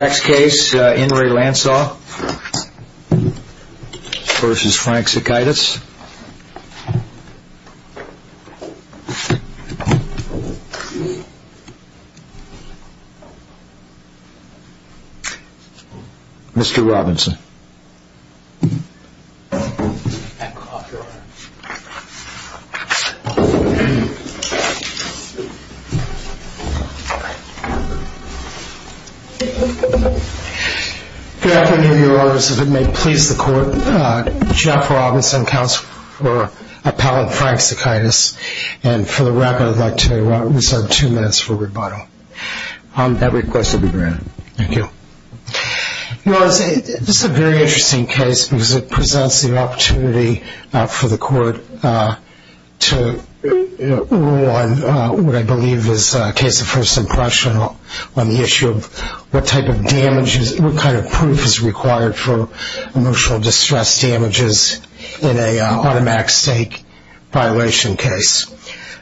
Next case, Inrey Lansall versus Frank Zekaitis. Mr. Robinson. Good afternoon, Your Honor, as it may please the Court, Jeff Robinson, counsel for the Frank Zekaitis, and for the record, I'd like to reserve two minutes for rebuttal. That request will be granted. Thank you. Well, this is a very interesting case because it presents the opportunity for the Court to rule on what I believe is a case of first impression on the issue of what type of damages, what kind of proof is required for emotional distress damages in an automatic stake violation case.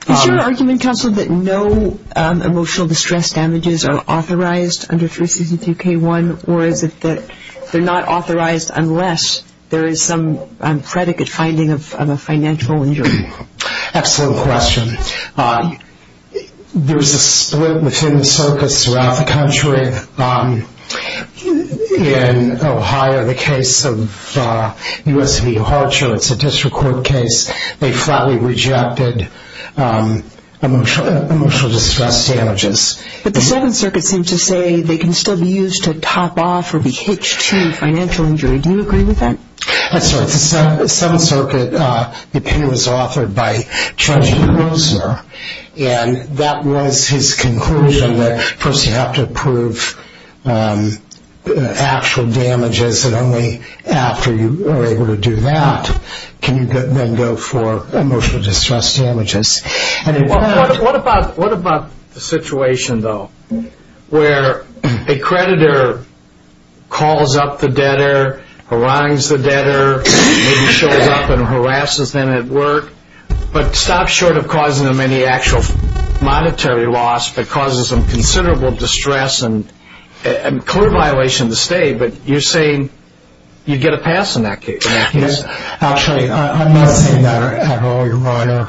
Is your argument, counsel, that no emotional distress damages are authorized under 362K1, or is it that they're not authorized unless there is some predicate finding of a financial injury? Excellent question. There's a split within the circuits throughout the country. In Ohio, the case of U.S.V. Harcher, it's a district court case. They flatly rejected emotional distress damages. But the Seventh Circuit seemed to say they can still be used to top off for the H2 financial injury. Do you agree with that? I'm sorry. The Seventh Circuit opinion was authored by Judge Grossner, and that was his conclusion that first you have to prove actual damages, and only after you are able to do that can you then go for emotional distress damages. What about the situation, though, where a creditor calls up the debtor, harangues the debtor, maybe shows up and harasses them at work, but stops short of causing them any actual monetary loss, but causes them considerable distress and clear violation to stay, but you're saying you get a pass in that case. Actually, I'm not saying that at all, Your Honor.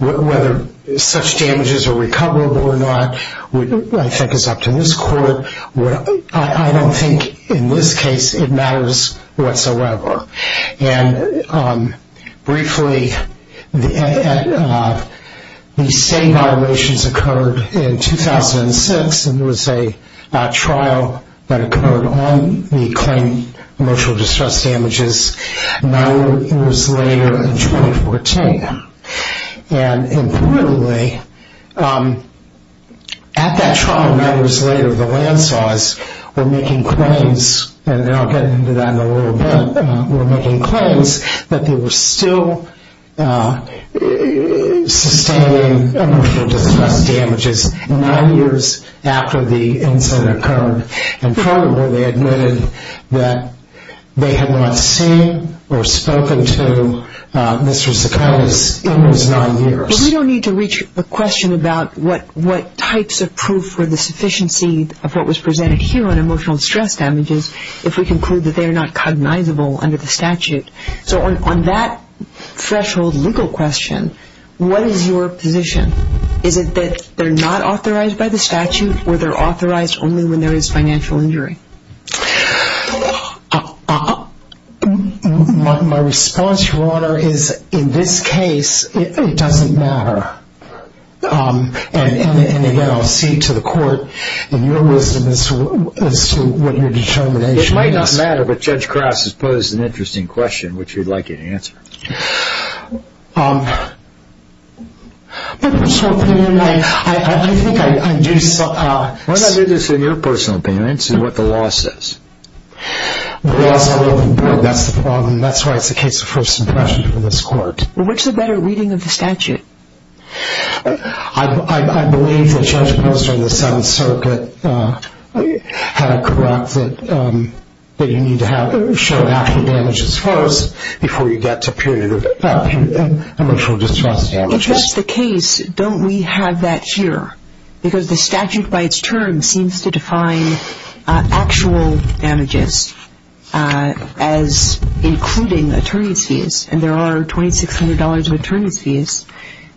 Whether such damages are recoverable or not I think is up to this court. I don't think in this case it matters whatsoever. And briefly, the same violations occurred in 2006, and there was a trial that occurred on the claim of emotional distress damages nine years later in 2014. And importantly, at that trial nine years later, the landslides were making claims, and I'll get into that in a little bit, were making claims that they were still sustaining emotional distress damages. Nine years after the incident occurred. And furthermore, they admitted that they had not seen or spoken to Mr. Zaconis in those nine years. We don't need to reach a question about what types of proof were the sufficiency of what was presented here on emotional distress damages if we conclude that they are not cognizable under the statute. So on that threshold legal question, what is your position? Is it that they're not authorized by the statute, or they're authorized only when there is financial injury? My response, Your Honor, is in this case it doesn't matter. And again, I'll see to the court in your wisdom as to what your determination is. It might not matter, but Judge Krause has posed an interesting question, which we'd like you to answer. In my personal opinion, I think I do see... Why don't I do this in your personal opinion? I'd see what the law says. That's the problem. That's why it's a case of first impression for this court. Well, what's a better reading of the statute? I believe that Judge Posner of the Seventh Circuit had it correct that you need to show active damages first before you get to emotional distress damages. If that's the case, don't we have that here? Because the statute by its term seems to define actual damages as including attorney's fees, and there are $2,600 of attorney's fees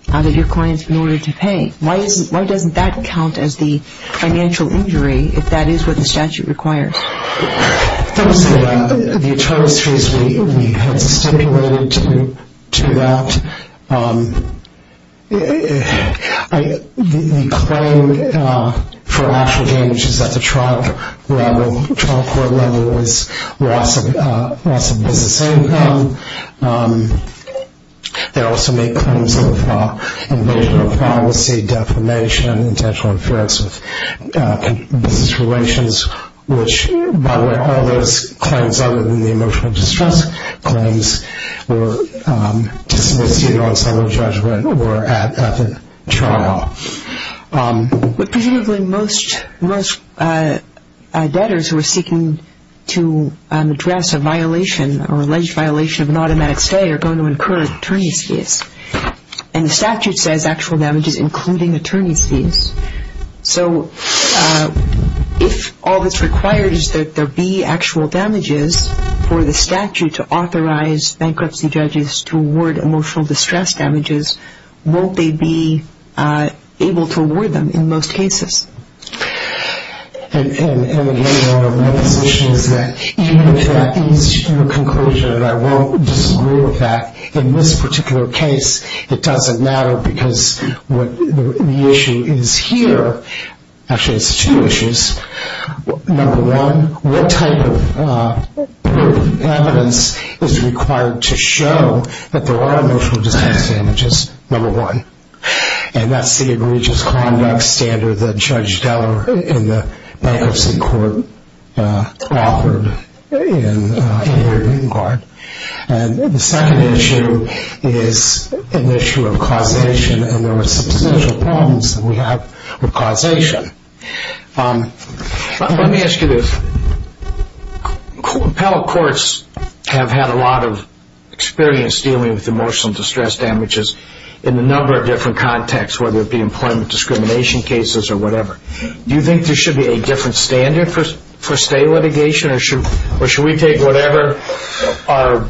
that your client's been ordered to pay. Why doesn't that count as the financial injury if that is what the statute requires? Those are the attorney's fees we have stipulated to that. The claim for actual damages at the trial level, trial court level, is loss of business income. They also make claims of invasion of policy, defamation, and intentional interference with business relations, which, by the way, all those claims other than the emotional distress claims were disassociated on some of the judgment or at the trial. But presumably most debtors who are seeking to address a violation or alleged violation of an automatic stay are going to incur attorney's fees, So if all that's required is that there be actual damages for the statute to authorize bankruptcy judges to award emotional distress damages, won't they be able to award them in most cases? And again, one of my positions is that even if that leads to a conclusion that I won't disagree with that, in this particular case it doesn't matter because the issue is here. Actually, it's two issues. Number one, what type of evidence is required to show that there are emotional distress damages? Number one. And that's the egregious conduct standard that Judge Deller in the Bankruptcy Court authored in the Green Card. And the second issue is an issue of causation, and there are substantial problems that we have with causation. Let me ask you this. Appellate courts have had a lot of experience dealing with emotional distress damages in a number of different contexts, whether it be employment discrimination cases or whatever. Do you think there should be a different standard for stay litigation? Or should we take whatever our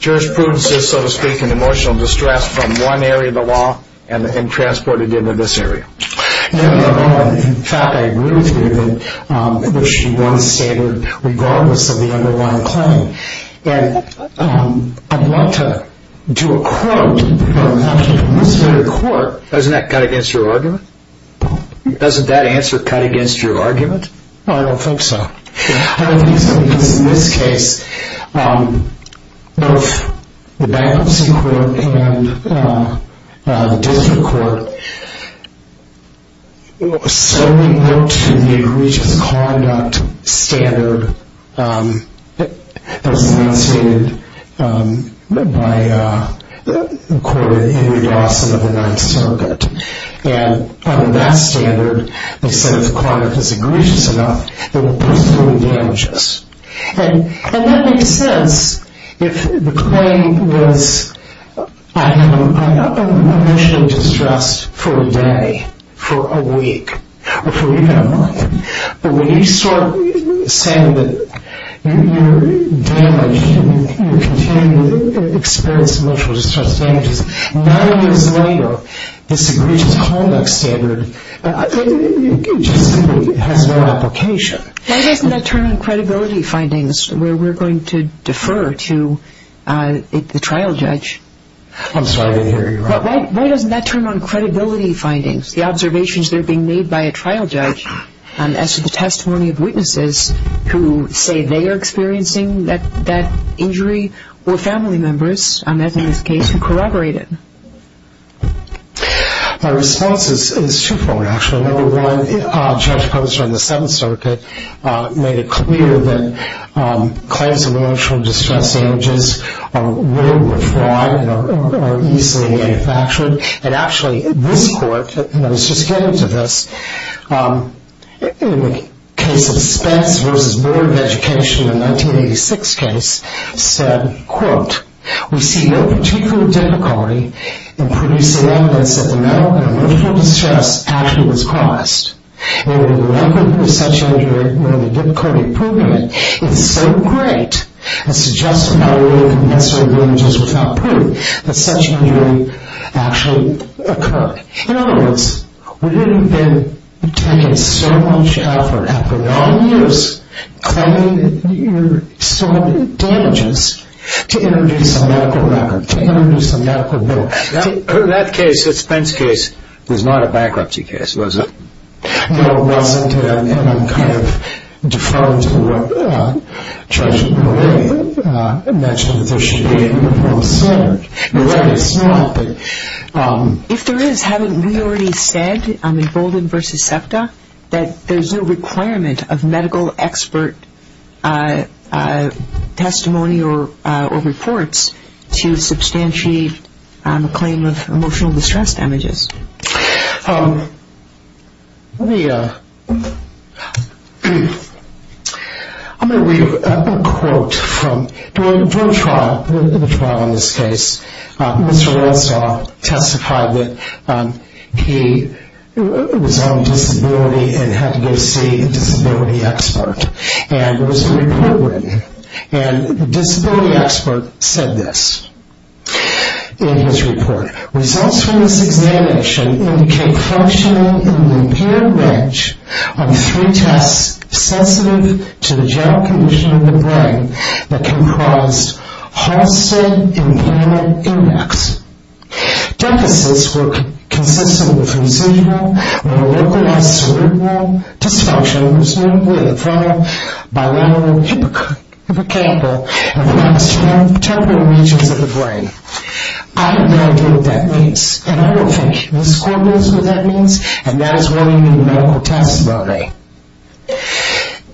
jurisprudence is, so to speak, in emotional distress from one area of the law and transport it into this area? No, no, no. In fact, I agree with you that there should be one standard regardless of the underlying claim. And I'd like to do a quote. A quote? Doesn't that cut against your argument? Doesn't that answer cut against your argument? No, I don't think so. I don't think so because in this case, both the Bankruptcy Court and the District Court solely looked to the egregious conduct standard that was enunciated by the court of Henry Dawson of the Ninth Circuit. And under that standard, they said if the client was egregious enough, they would pursue the damages. And that makes sense if the claim was I'm emotionally distressed for a day, for a week, or for even a month. But when you start saying that you're damaged and you continue to experience emotional distress damages, nine years later, this egregious conduct standard just has no application. Why doesn't that turn on credibility findings where we're going to defer to the trial judge? I'm sorry to hear you. Why doesn't that turn on credibility findings, the observations that are being made by a trial judge as to the testimony of witnesses who say they are experiencing that injury or family members, as in this case, who corroborate it? My response is two-fold, actually. Number one, Judge Posner in the Seventh Circuit made it clear that claims of emotional distress damages were fraud and are easily manufactured. And actually, this court, and I was just getting to this, in the case of Spence v. Board of Education, the 1986 case, said, We see no particular difficulty in producing evidence that the mental and emotional distress actually was caused. And the record of such injury, nor the difficulty of proving it, is so great as to justify removing the necessary damages without proof that such injury actually occurred. In other words, we would have been taking so much effort after nine years claiming your damages to introduce a medical record, to introduce a medical bill. That case, the Spence case, was not a bankruptcy case, was it? No, it wasn't. And I'm kind of deferring to what Judge Milley mentioned, that there should be a report of standard. The record is not, but... If there is, haven't we already said in Bolden v. SEPTA that there's no requirement of medical expert testimony or reports to substantiate a claim of emotional distress damages? I'm going to read a quote from the trial in this case. Mr. Redstaw testified that he was on disability and had to go see a disability expert. And there was a report written. And the disability expert said this in his report. Results from this examination indicate functioning in the impaired branch of three tests sensitive to the general condition of the brain that can cause Halsted Implant Index. Deficits were consistent with residual or localized cerebral dysfunctions, notably the frontal, bilateral, hippocampal, and progesterone-temporal regions of the brain. I have no idea what that means. And I don't think the score knows what that means. And that is why we need medical testimony.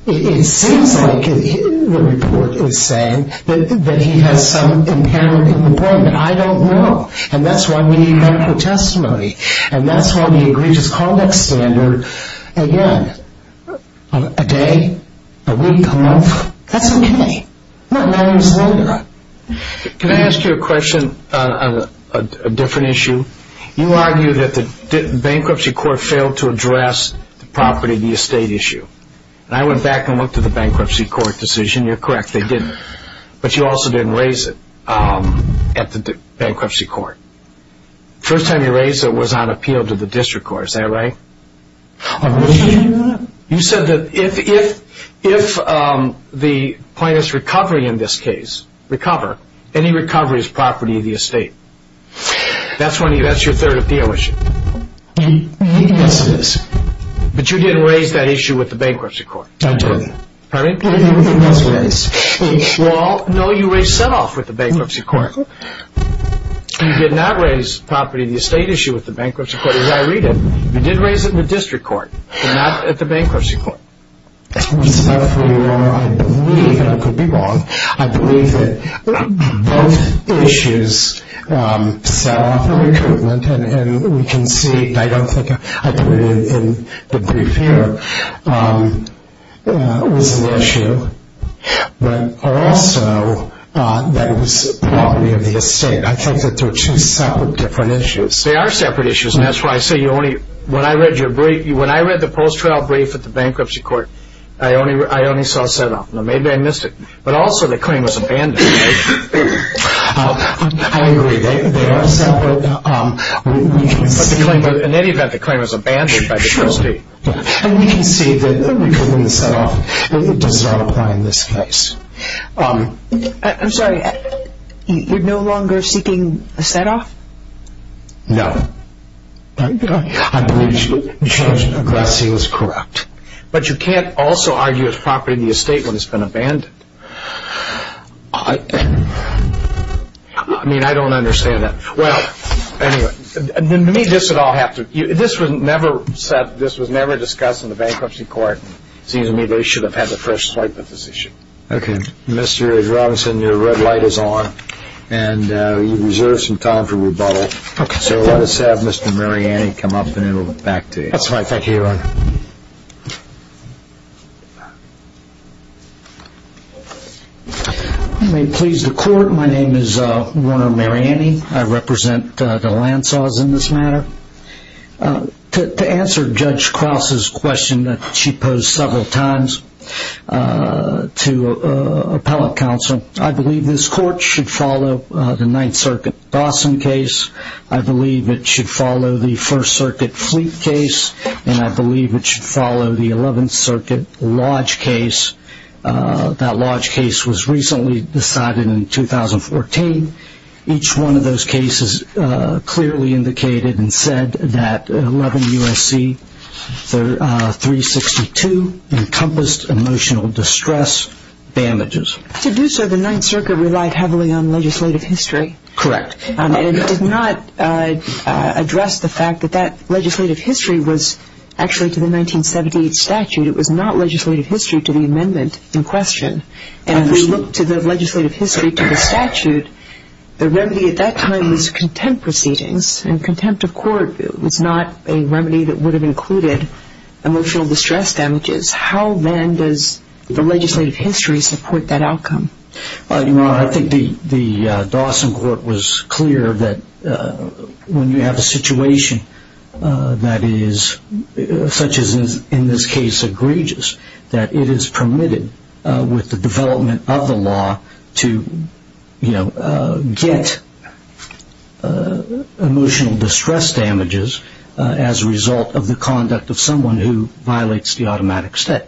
It seems like the report is saying that he has some impairment in the brain, but I don't know. And that's why we need medical testimony. And that's why we agreed to call that standard, again, a day, a week, a month. That's okay. My name is Linda. Can I ask you a question on a different issue? You argued that the bankruptcy court failed to address the property-to-estate issue. And I went back and looked at the bankruptcy court decision. You're correct. They didn't. But you also didn't raise it at the bankruptcy court. The first time you raised it was on appeal to the district court. Is that right? You said that if the plaintiff's recovery in this case, recover, any recovery is property of the estate. That's your third appeal issue. Yes, it is. But you didn't raise that issue with the bankruptcy court. I didn't. Pardon me? I didn't raise it. Well, no, you raised it with the bankruptcy court. You did not raise property-to-estate issue with the bankruptcy court, as I read it. You did raise it with the district court, but not at the bankruptcy court. I'm sorry for your error. I believe, and I could be wrong, I believe that both issues set off a recruitment. And we can see, and I don't think I put it in the brief here, it was an issue. But also that it was property of the estate. I think that they're two separate different issues. They are separate issues. And that's why I say when I read the post-trial brief at the bankruptcy court, I only saw a set-off. Maybe I missed it. But also the claim was abandoned. I agree. They are separate. But in any event, the claim was abandoned by the trustee. And we can see that the recruitment set-off does not apply in this case. I'm sorry, you're no longer seeking a set-off? No. I believe Judge Agassi is correct. But you can't also argue it's property of the estate when it's been abandoned. I mean, I don't understand that. Well, anyway, to me this would all have to, this was never set, this was never discussed in the bankruptcy court. It seems to me they should have had a fresh swipe at this issue. Okay. Mr. Robinson, your red light is on. And you reserve some time for rebuttal. So let us have Mr. Mariani come up and then we'll get back to you. That's fine. Thank you, Your Honor. You may please the court. My name is Warner Mariani. I represent the Lansaws in this matter. To answer Judge Krause's question that she posed several times to appellate counsel, I believe this court should follow the Ninth Circuit Dawson case. I believe it should follow the First Circuit Fleet case. And I believe it should follow the Eleventh Circuit Lodge case. That Lodge case was recently decided in 2014. Each one of those cases clearly indicated and said that 11 U.S.C. 362 encompassed emotional distress damages. To do so, the Ninth Circuit relied heavily on legislative history. Correct. And it did not address the fact that that legislative history was actually to the 1978 statute. It was not legislative history to the amendment in question. And if we look to the legislative history to the statute, the remedy at that time was contempt proceedings and contempt of court was not a remedy that would have included emotional distress damages. How then does the legislative history support that outcome? Well, Your Honor, I think the Dawson court was clear that when you have a situation that is such as in this case egregious, that it is permitted with the development of the law to get emotional distress damages as a result of the conduct of someone who violates the automatic state.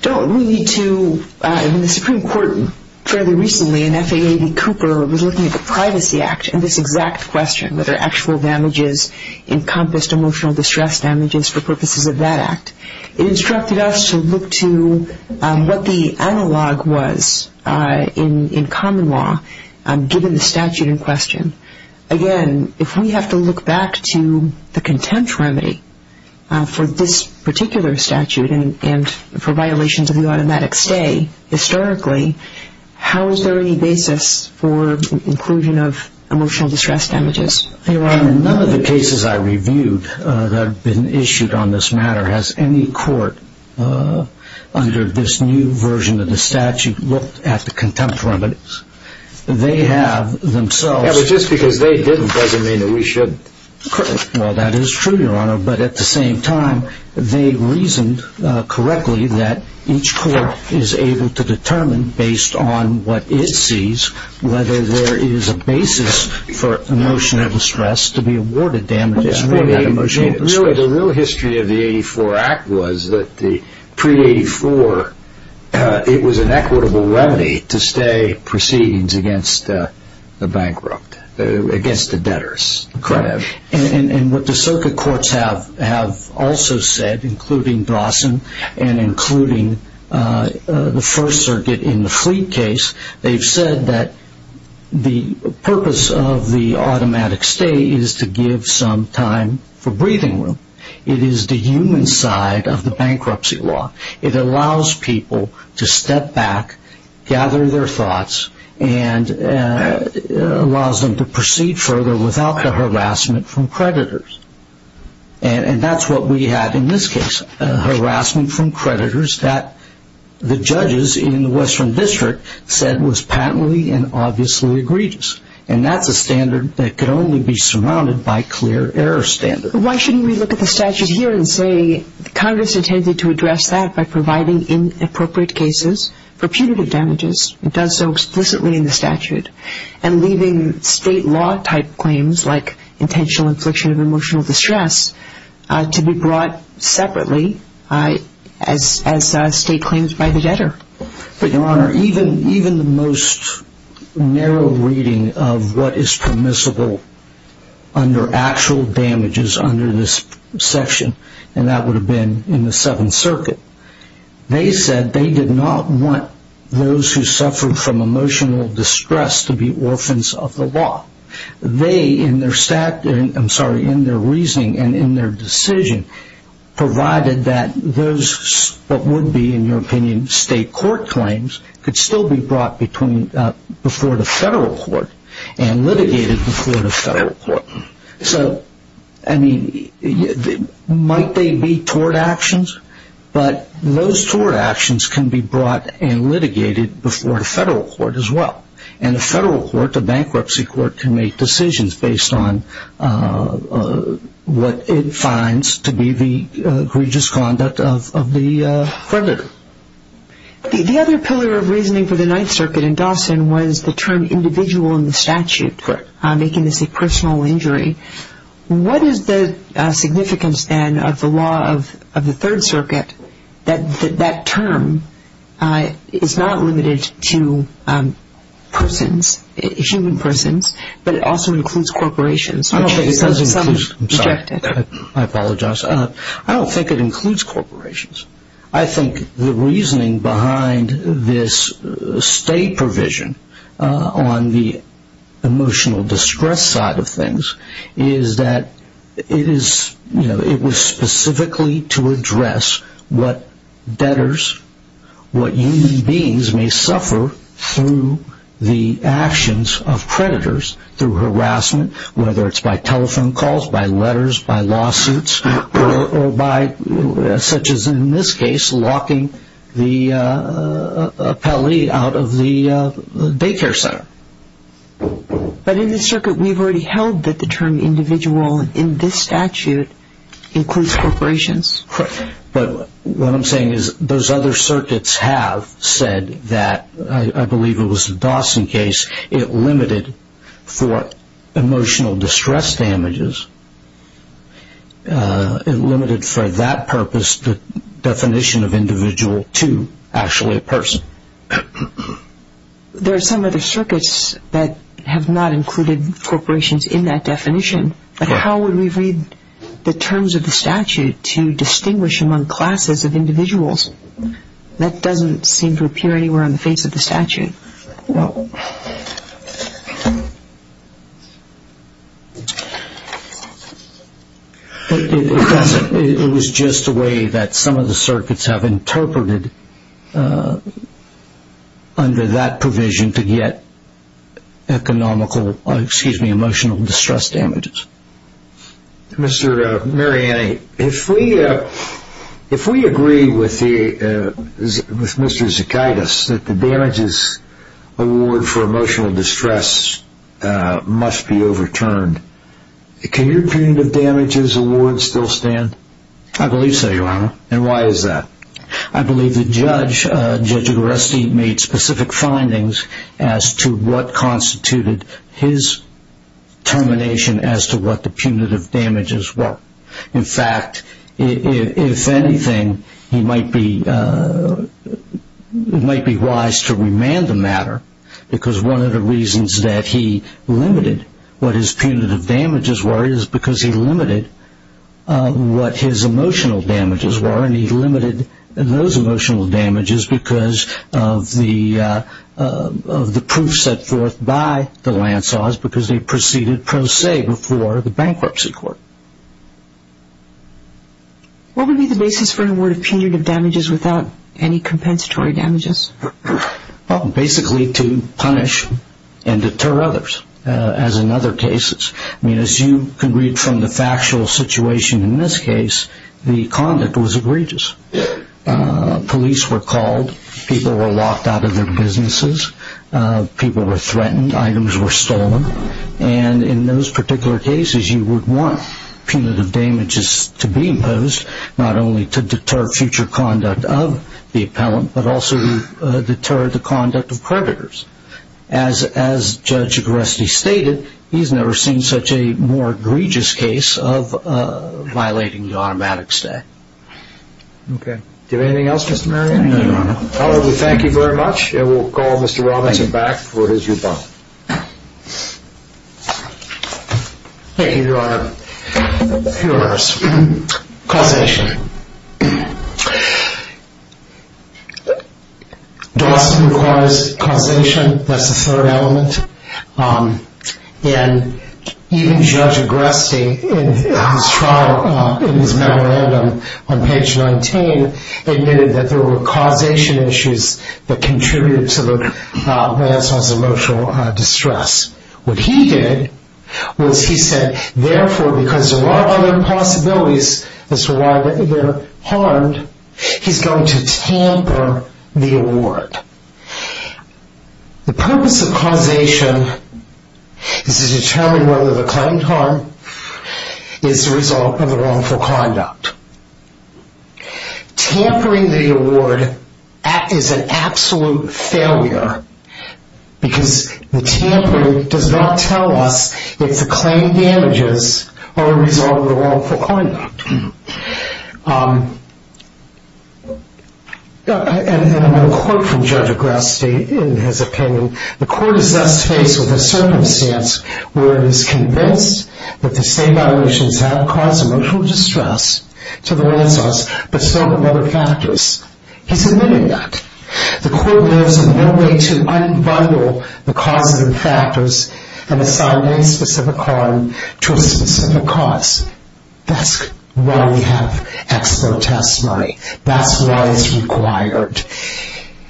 Don't we need to, in the Supreme Court fairly recently in FAA v. Cooper, was looking at the Privacy Act and this exact question, whether actual damages encompassed emotional distress damages for purposes of that act. It instructed us to look to what the analog was in common law given the statute in question. Again, if we have to look back to the contempt remedy for this particular statute and for violations of the automatic stay historically, how is there any basis for inclusion of emotional distress damages? Your Honor, none of the cases I reviewed that have been issued on this matter has any court under this new version of the statute looked at the contempt remedies. They have themselves... Yeah, but just because they didn't doesn't mean that we should... Well, that is true, Your Honor, but at the same time they reasoned correctly that each court is able to determine based on what it sees whether there is a basis for emotional distress to be awarded damages. Really, the real history of the 84 Act was that the pre-84, it was an equitable remedy to stay proceedings against the bankrupt, against the debtors. Correct. And what the circuit courts have also said, including Dawson and including the First Circuit in the Fleet case, they've said that the purpose of the automatic stay is to give some time for breathing room. It is the human side of the bankruptcy law. It allows people to step back, gather their thoughts, and allows them to proceed further without the harassment from creditors. And that's what we have in this case, harassment from creditors that the judges in the Western District said was patently and obviously egregious. And that's a standard that could only be surrounded by clear error standards. Why shouldn't we look at the statute here and say Congress intended to address that by providing inappropriate cases for punitive damages and does so explicitly in the statute, and leaving state law type claims like intentional infliction of emotional distress to be brought separately as state claims by the debtor? But, Your Honor, even the most narrow reading of what is permissible under actual damages under this section, and that would have been in the Seventh Circuit, they said they did not want those who suffered from emotional distress to be orphans of the law. They, in their reasoning and in their decision, provided that those what would be, in your opinion, state court claims could still be brought before the federal court and litigated before the federal court. So, I mean, might they be tort actions? But those tort actions can be brought and litigated before the federal court as well. And the federal court, the bankruptcy court, can make decisions based on what it finds to be the egregious conduct of the creditor. The other pillar of reasoning for the Ninth Circuit in Dawson was the term individual in the statute, making this a personal injury. What is the significance, then, of the law of the Third Circuit that that term is not limited to persons, human persons, but it also includes corporations? I don't think it does include, I'm sorry, I apologize. I don't think it includes corporations. I think the reasoning behind this state provision on the emotional distress side of things is that it was specifically to address what debtors, what human beings may suffer through the actions of creditors, through harassment, whether it's by telephone calls, by letters, by lawsuits, or by, such as in this case, locking the appellee out of the daycare center. But in the circuit, we've already held that the term individual in this statute includes corporations. But what I'm saying is those other circuits have said that, I believe it was the Dawson case, it limited for emotional distress damages, it limited for that purpose the definition of individual to actually a person. There are some other circuits that have not included corporations in that definition, but how would we read the terms of the statute to distinguish among classes of individuals? That doesn't seem to appear anywhere on the face of the statute. It was just a way that some of the circuits have interpreted under that provision to get economical, excuse me, emotional distress damages. Mr. Mariani, if we agree with Mr. Zichaitis that the damages award for emotional distress must be overturned, can your opinion of damages awards still stand? I believe so, Your Honor. And why is that? I believe the judge, Judge Agaresti, made specific findings as to what constituted his termination as to what the punitive damages were. In fact, if anything, he might be wise to remand the matter because one of the reasons that he limited what his punitive damages were is because he limited what his emotional damages were, and Mr. Mariani limited those emotional damages because of the proof set forth by the Lansaws because they proceeded pro se before the bankruptcy court. What would be the basis for an award of punitive damages without any compensatory damages? Well, basically to punish and deter others, as in other cases. I mean, as you can read from the factual situation in this case, the conduct was egregious. Police were called. People were locked out of their businesses. People were threatened. Items were stolen. And in those particular cases, you would want punitive damages to be imposed not only to deter future conduct of the appellant but also to deter the conduct of creditors. As Judge Goreski stated, he's never seen such a more egregious case of violating the automatic stay. Okay. Do you have anything else, Mr. Mariani? No, Your Honor. Well, we thank you very much, and we'll call Mr. Robinson back for his rebuttal. Thank you, Your Honor. Your Honor, causation. Dawson requires causation. That's the third element. And even Judge Goreski in his trial, in his memorandum on page 19, admitted that there were causation issues that contributed to the Lansaws' emotional distress. What he did was he said, therefore, because there are other possibilities as to why they're harmed, he's going to tamper the award. The purpose of causation is to determine whether the claimed harm is the result of the wrongful conduct. Tampering the award is an absolute failure, because the tampering does not tell us if the claimed damages are a result of the wrongful conduct. And I'm going to quote from Judge Goreski in his opinion. The court is thus faced with a circumstance where it is convinced that the same violations have caused emotional distress to the Lansaws, but so have other factors. He's admitting that. The court lives in no way to unbundle the causes and factors and assign any specific harm to a specific cause. That's why we have ex-protest money. That's why it's required.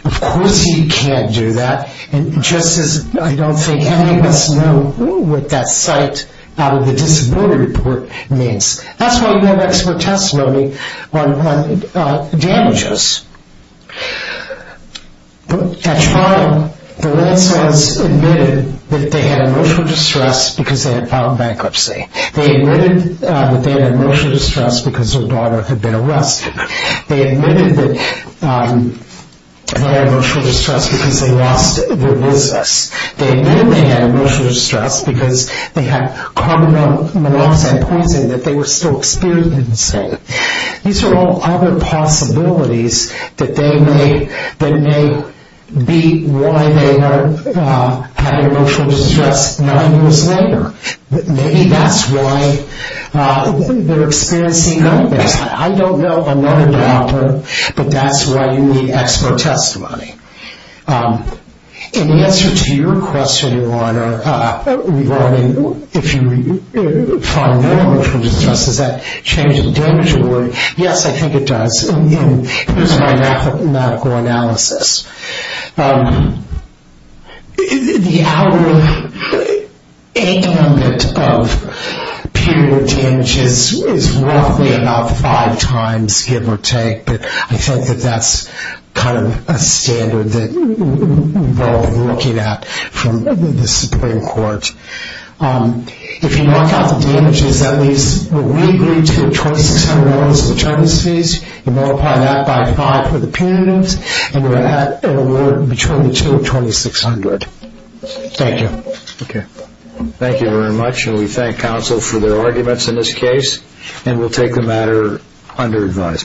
Of course he can't do that, and just as I don't think any of us know what that cite out of the disability report means. That's why you have ex-protest money on damages. At trial, the Lansaws admitted that they had emotional distress because they had filed bankruptcy. They admitted that they had emotional distress because their daughter had been arrested. They admitted that they had emotional distress because they lost their business. They admitted they had emotional distress because they had carbon monoxide poisoning that they were still experiencing. These are all other possibilities that may be why they had emotional distress nine years later. Maybe that's why they're experiencing nightmares. I don't know. I'm not a doctor, but that's why you need ex-protest money. In answer to your question, Your Honor, if you find that emotional distress, does that change the damage award? Yes, I think it does. Here's my mathematical analysis. The average age limit of punitive damages is roughly about five times, give or take, but I think that that's kind of a standard that we're all looking at from the Supreme Court. If you knock out the damages, that means we agreed to the $2,600 maternity fees. Multiply that by five for the punitives, and we're at an award between $2,200 and $2,600. Thank you. Thank you very much, and we thank counsel for their arguments in this case. We'll take the matter under advisement.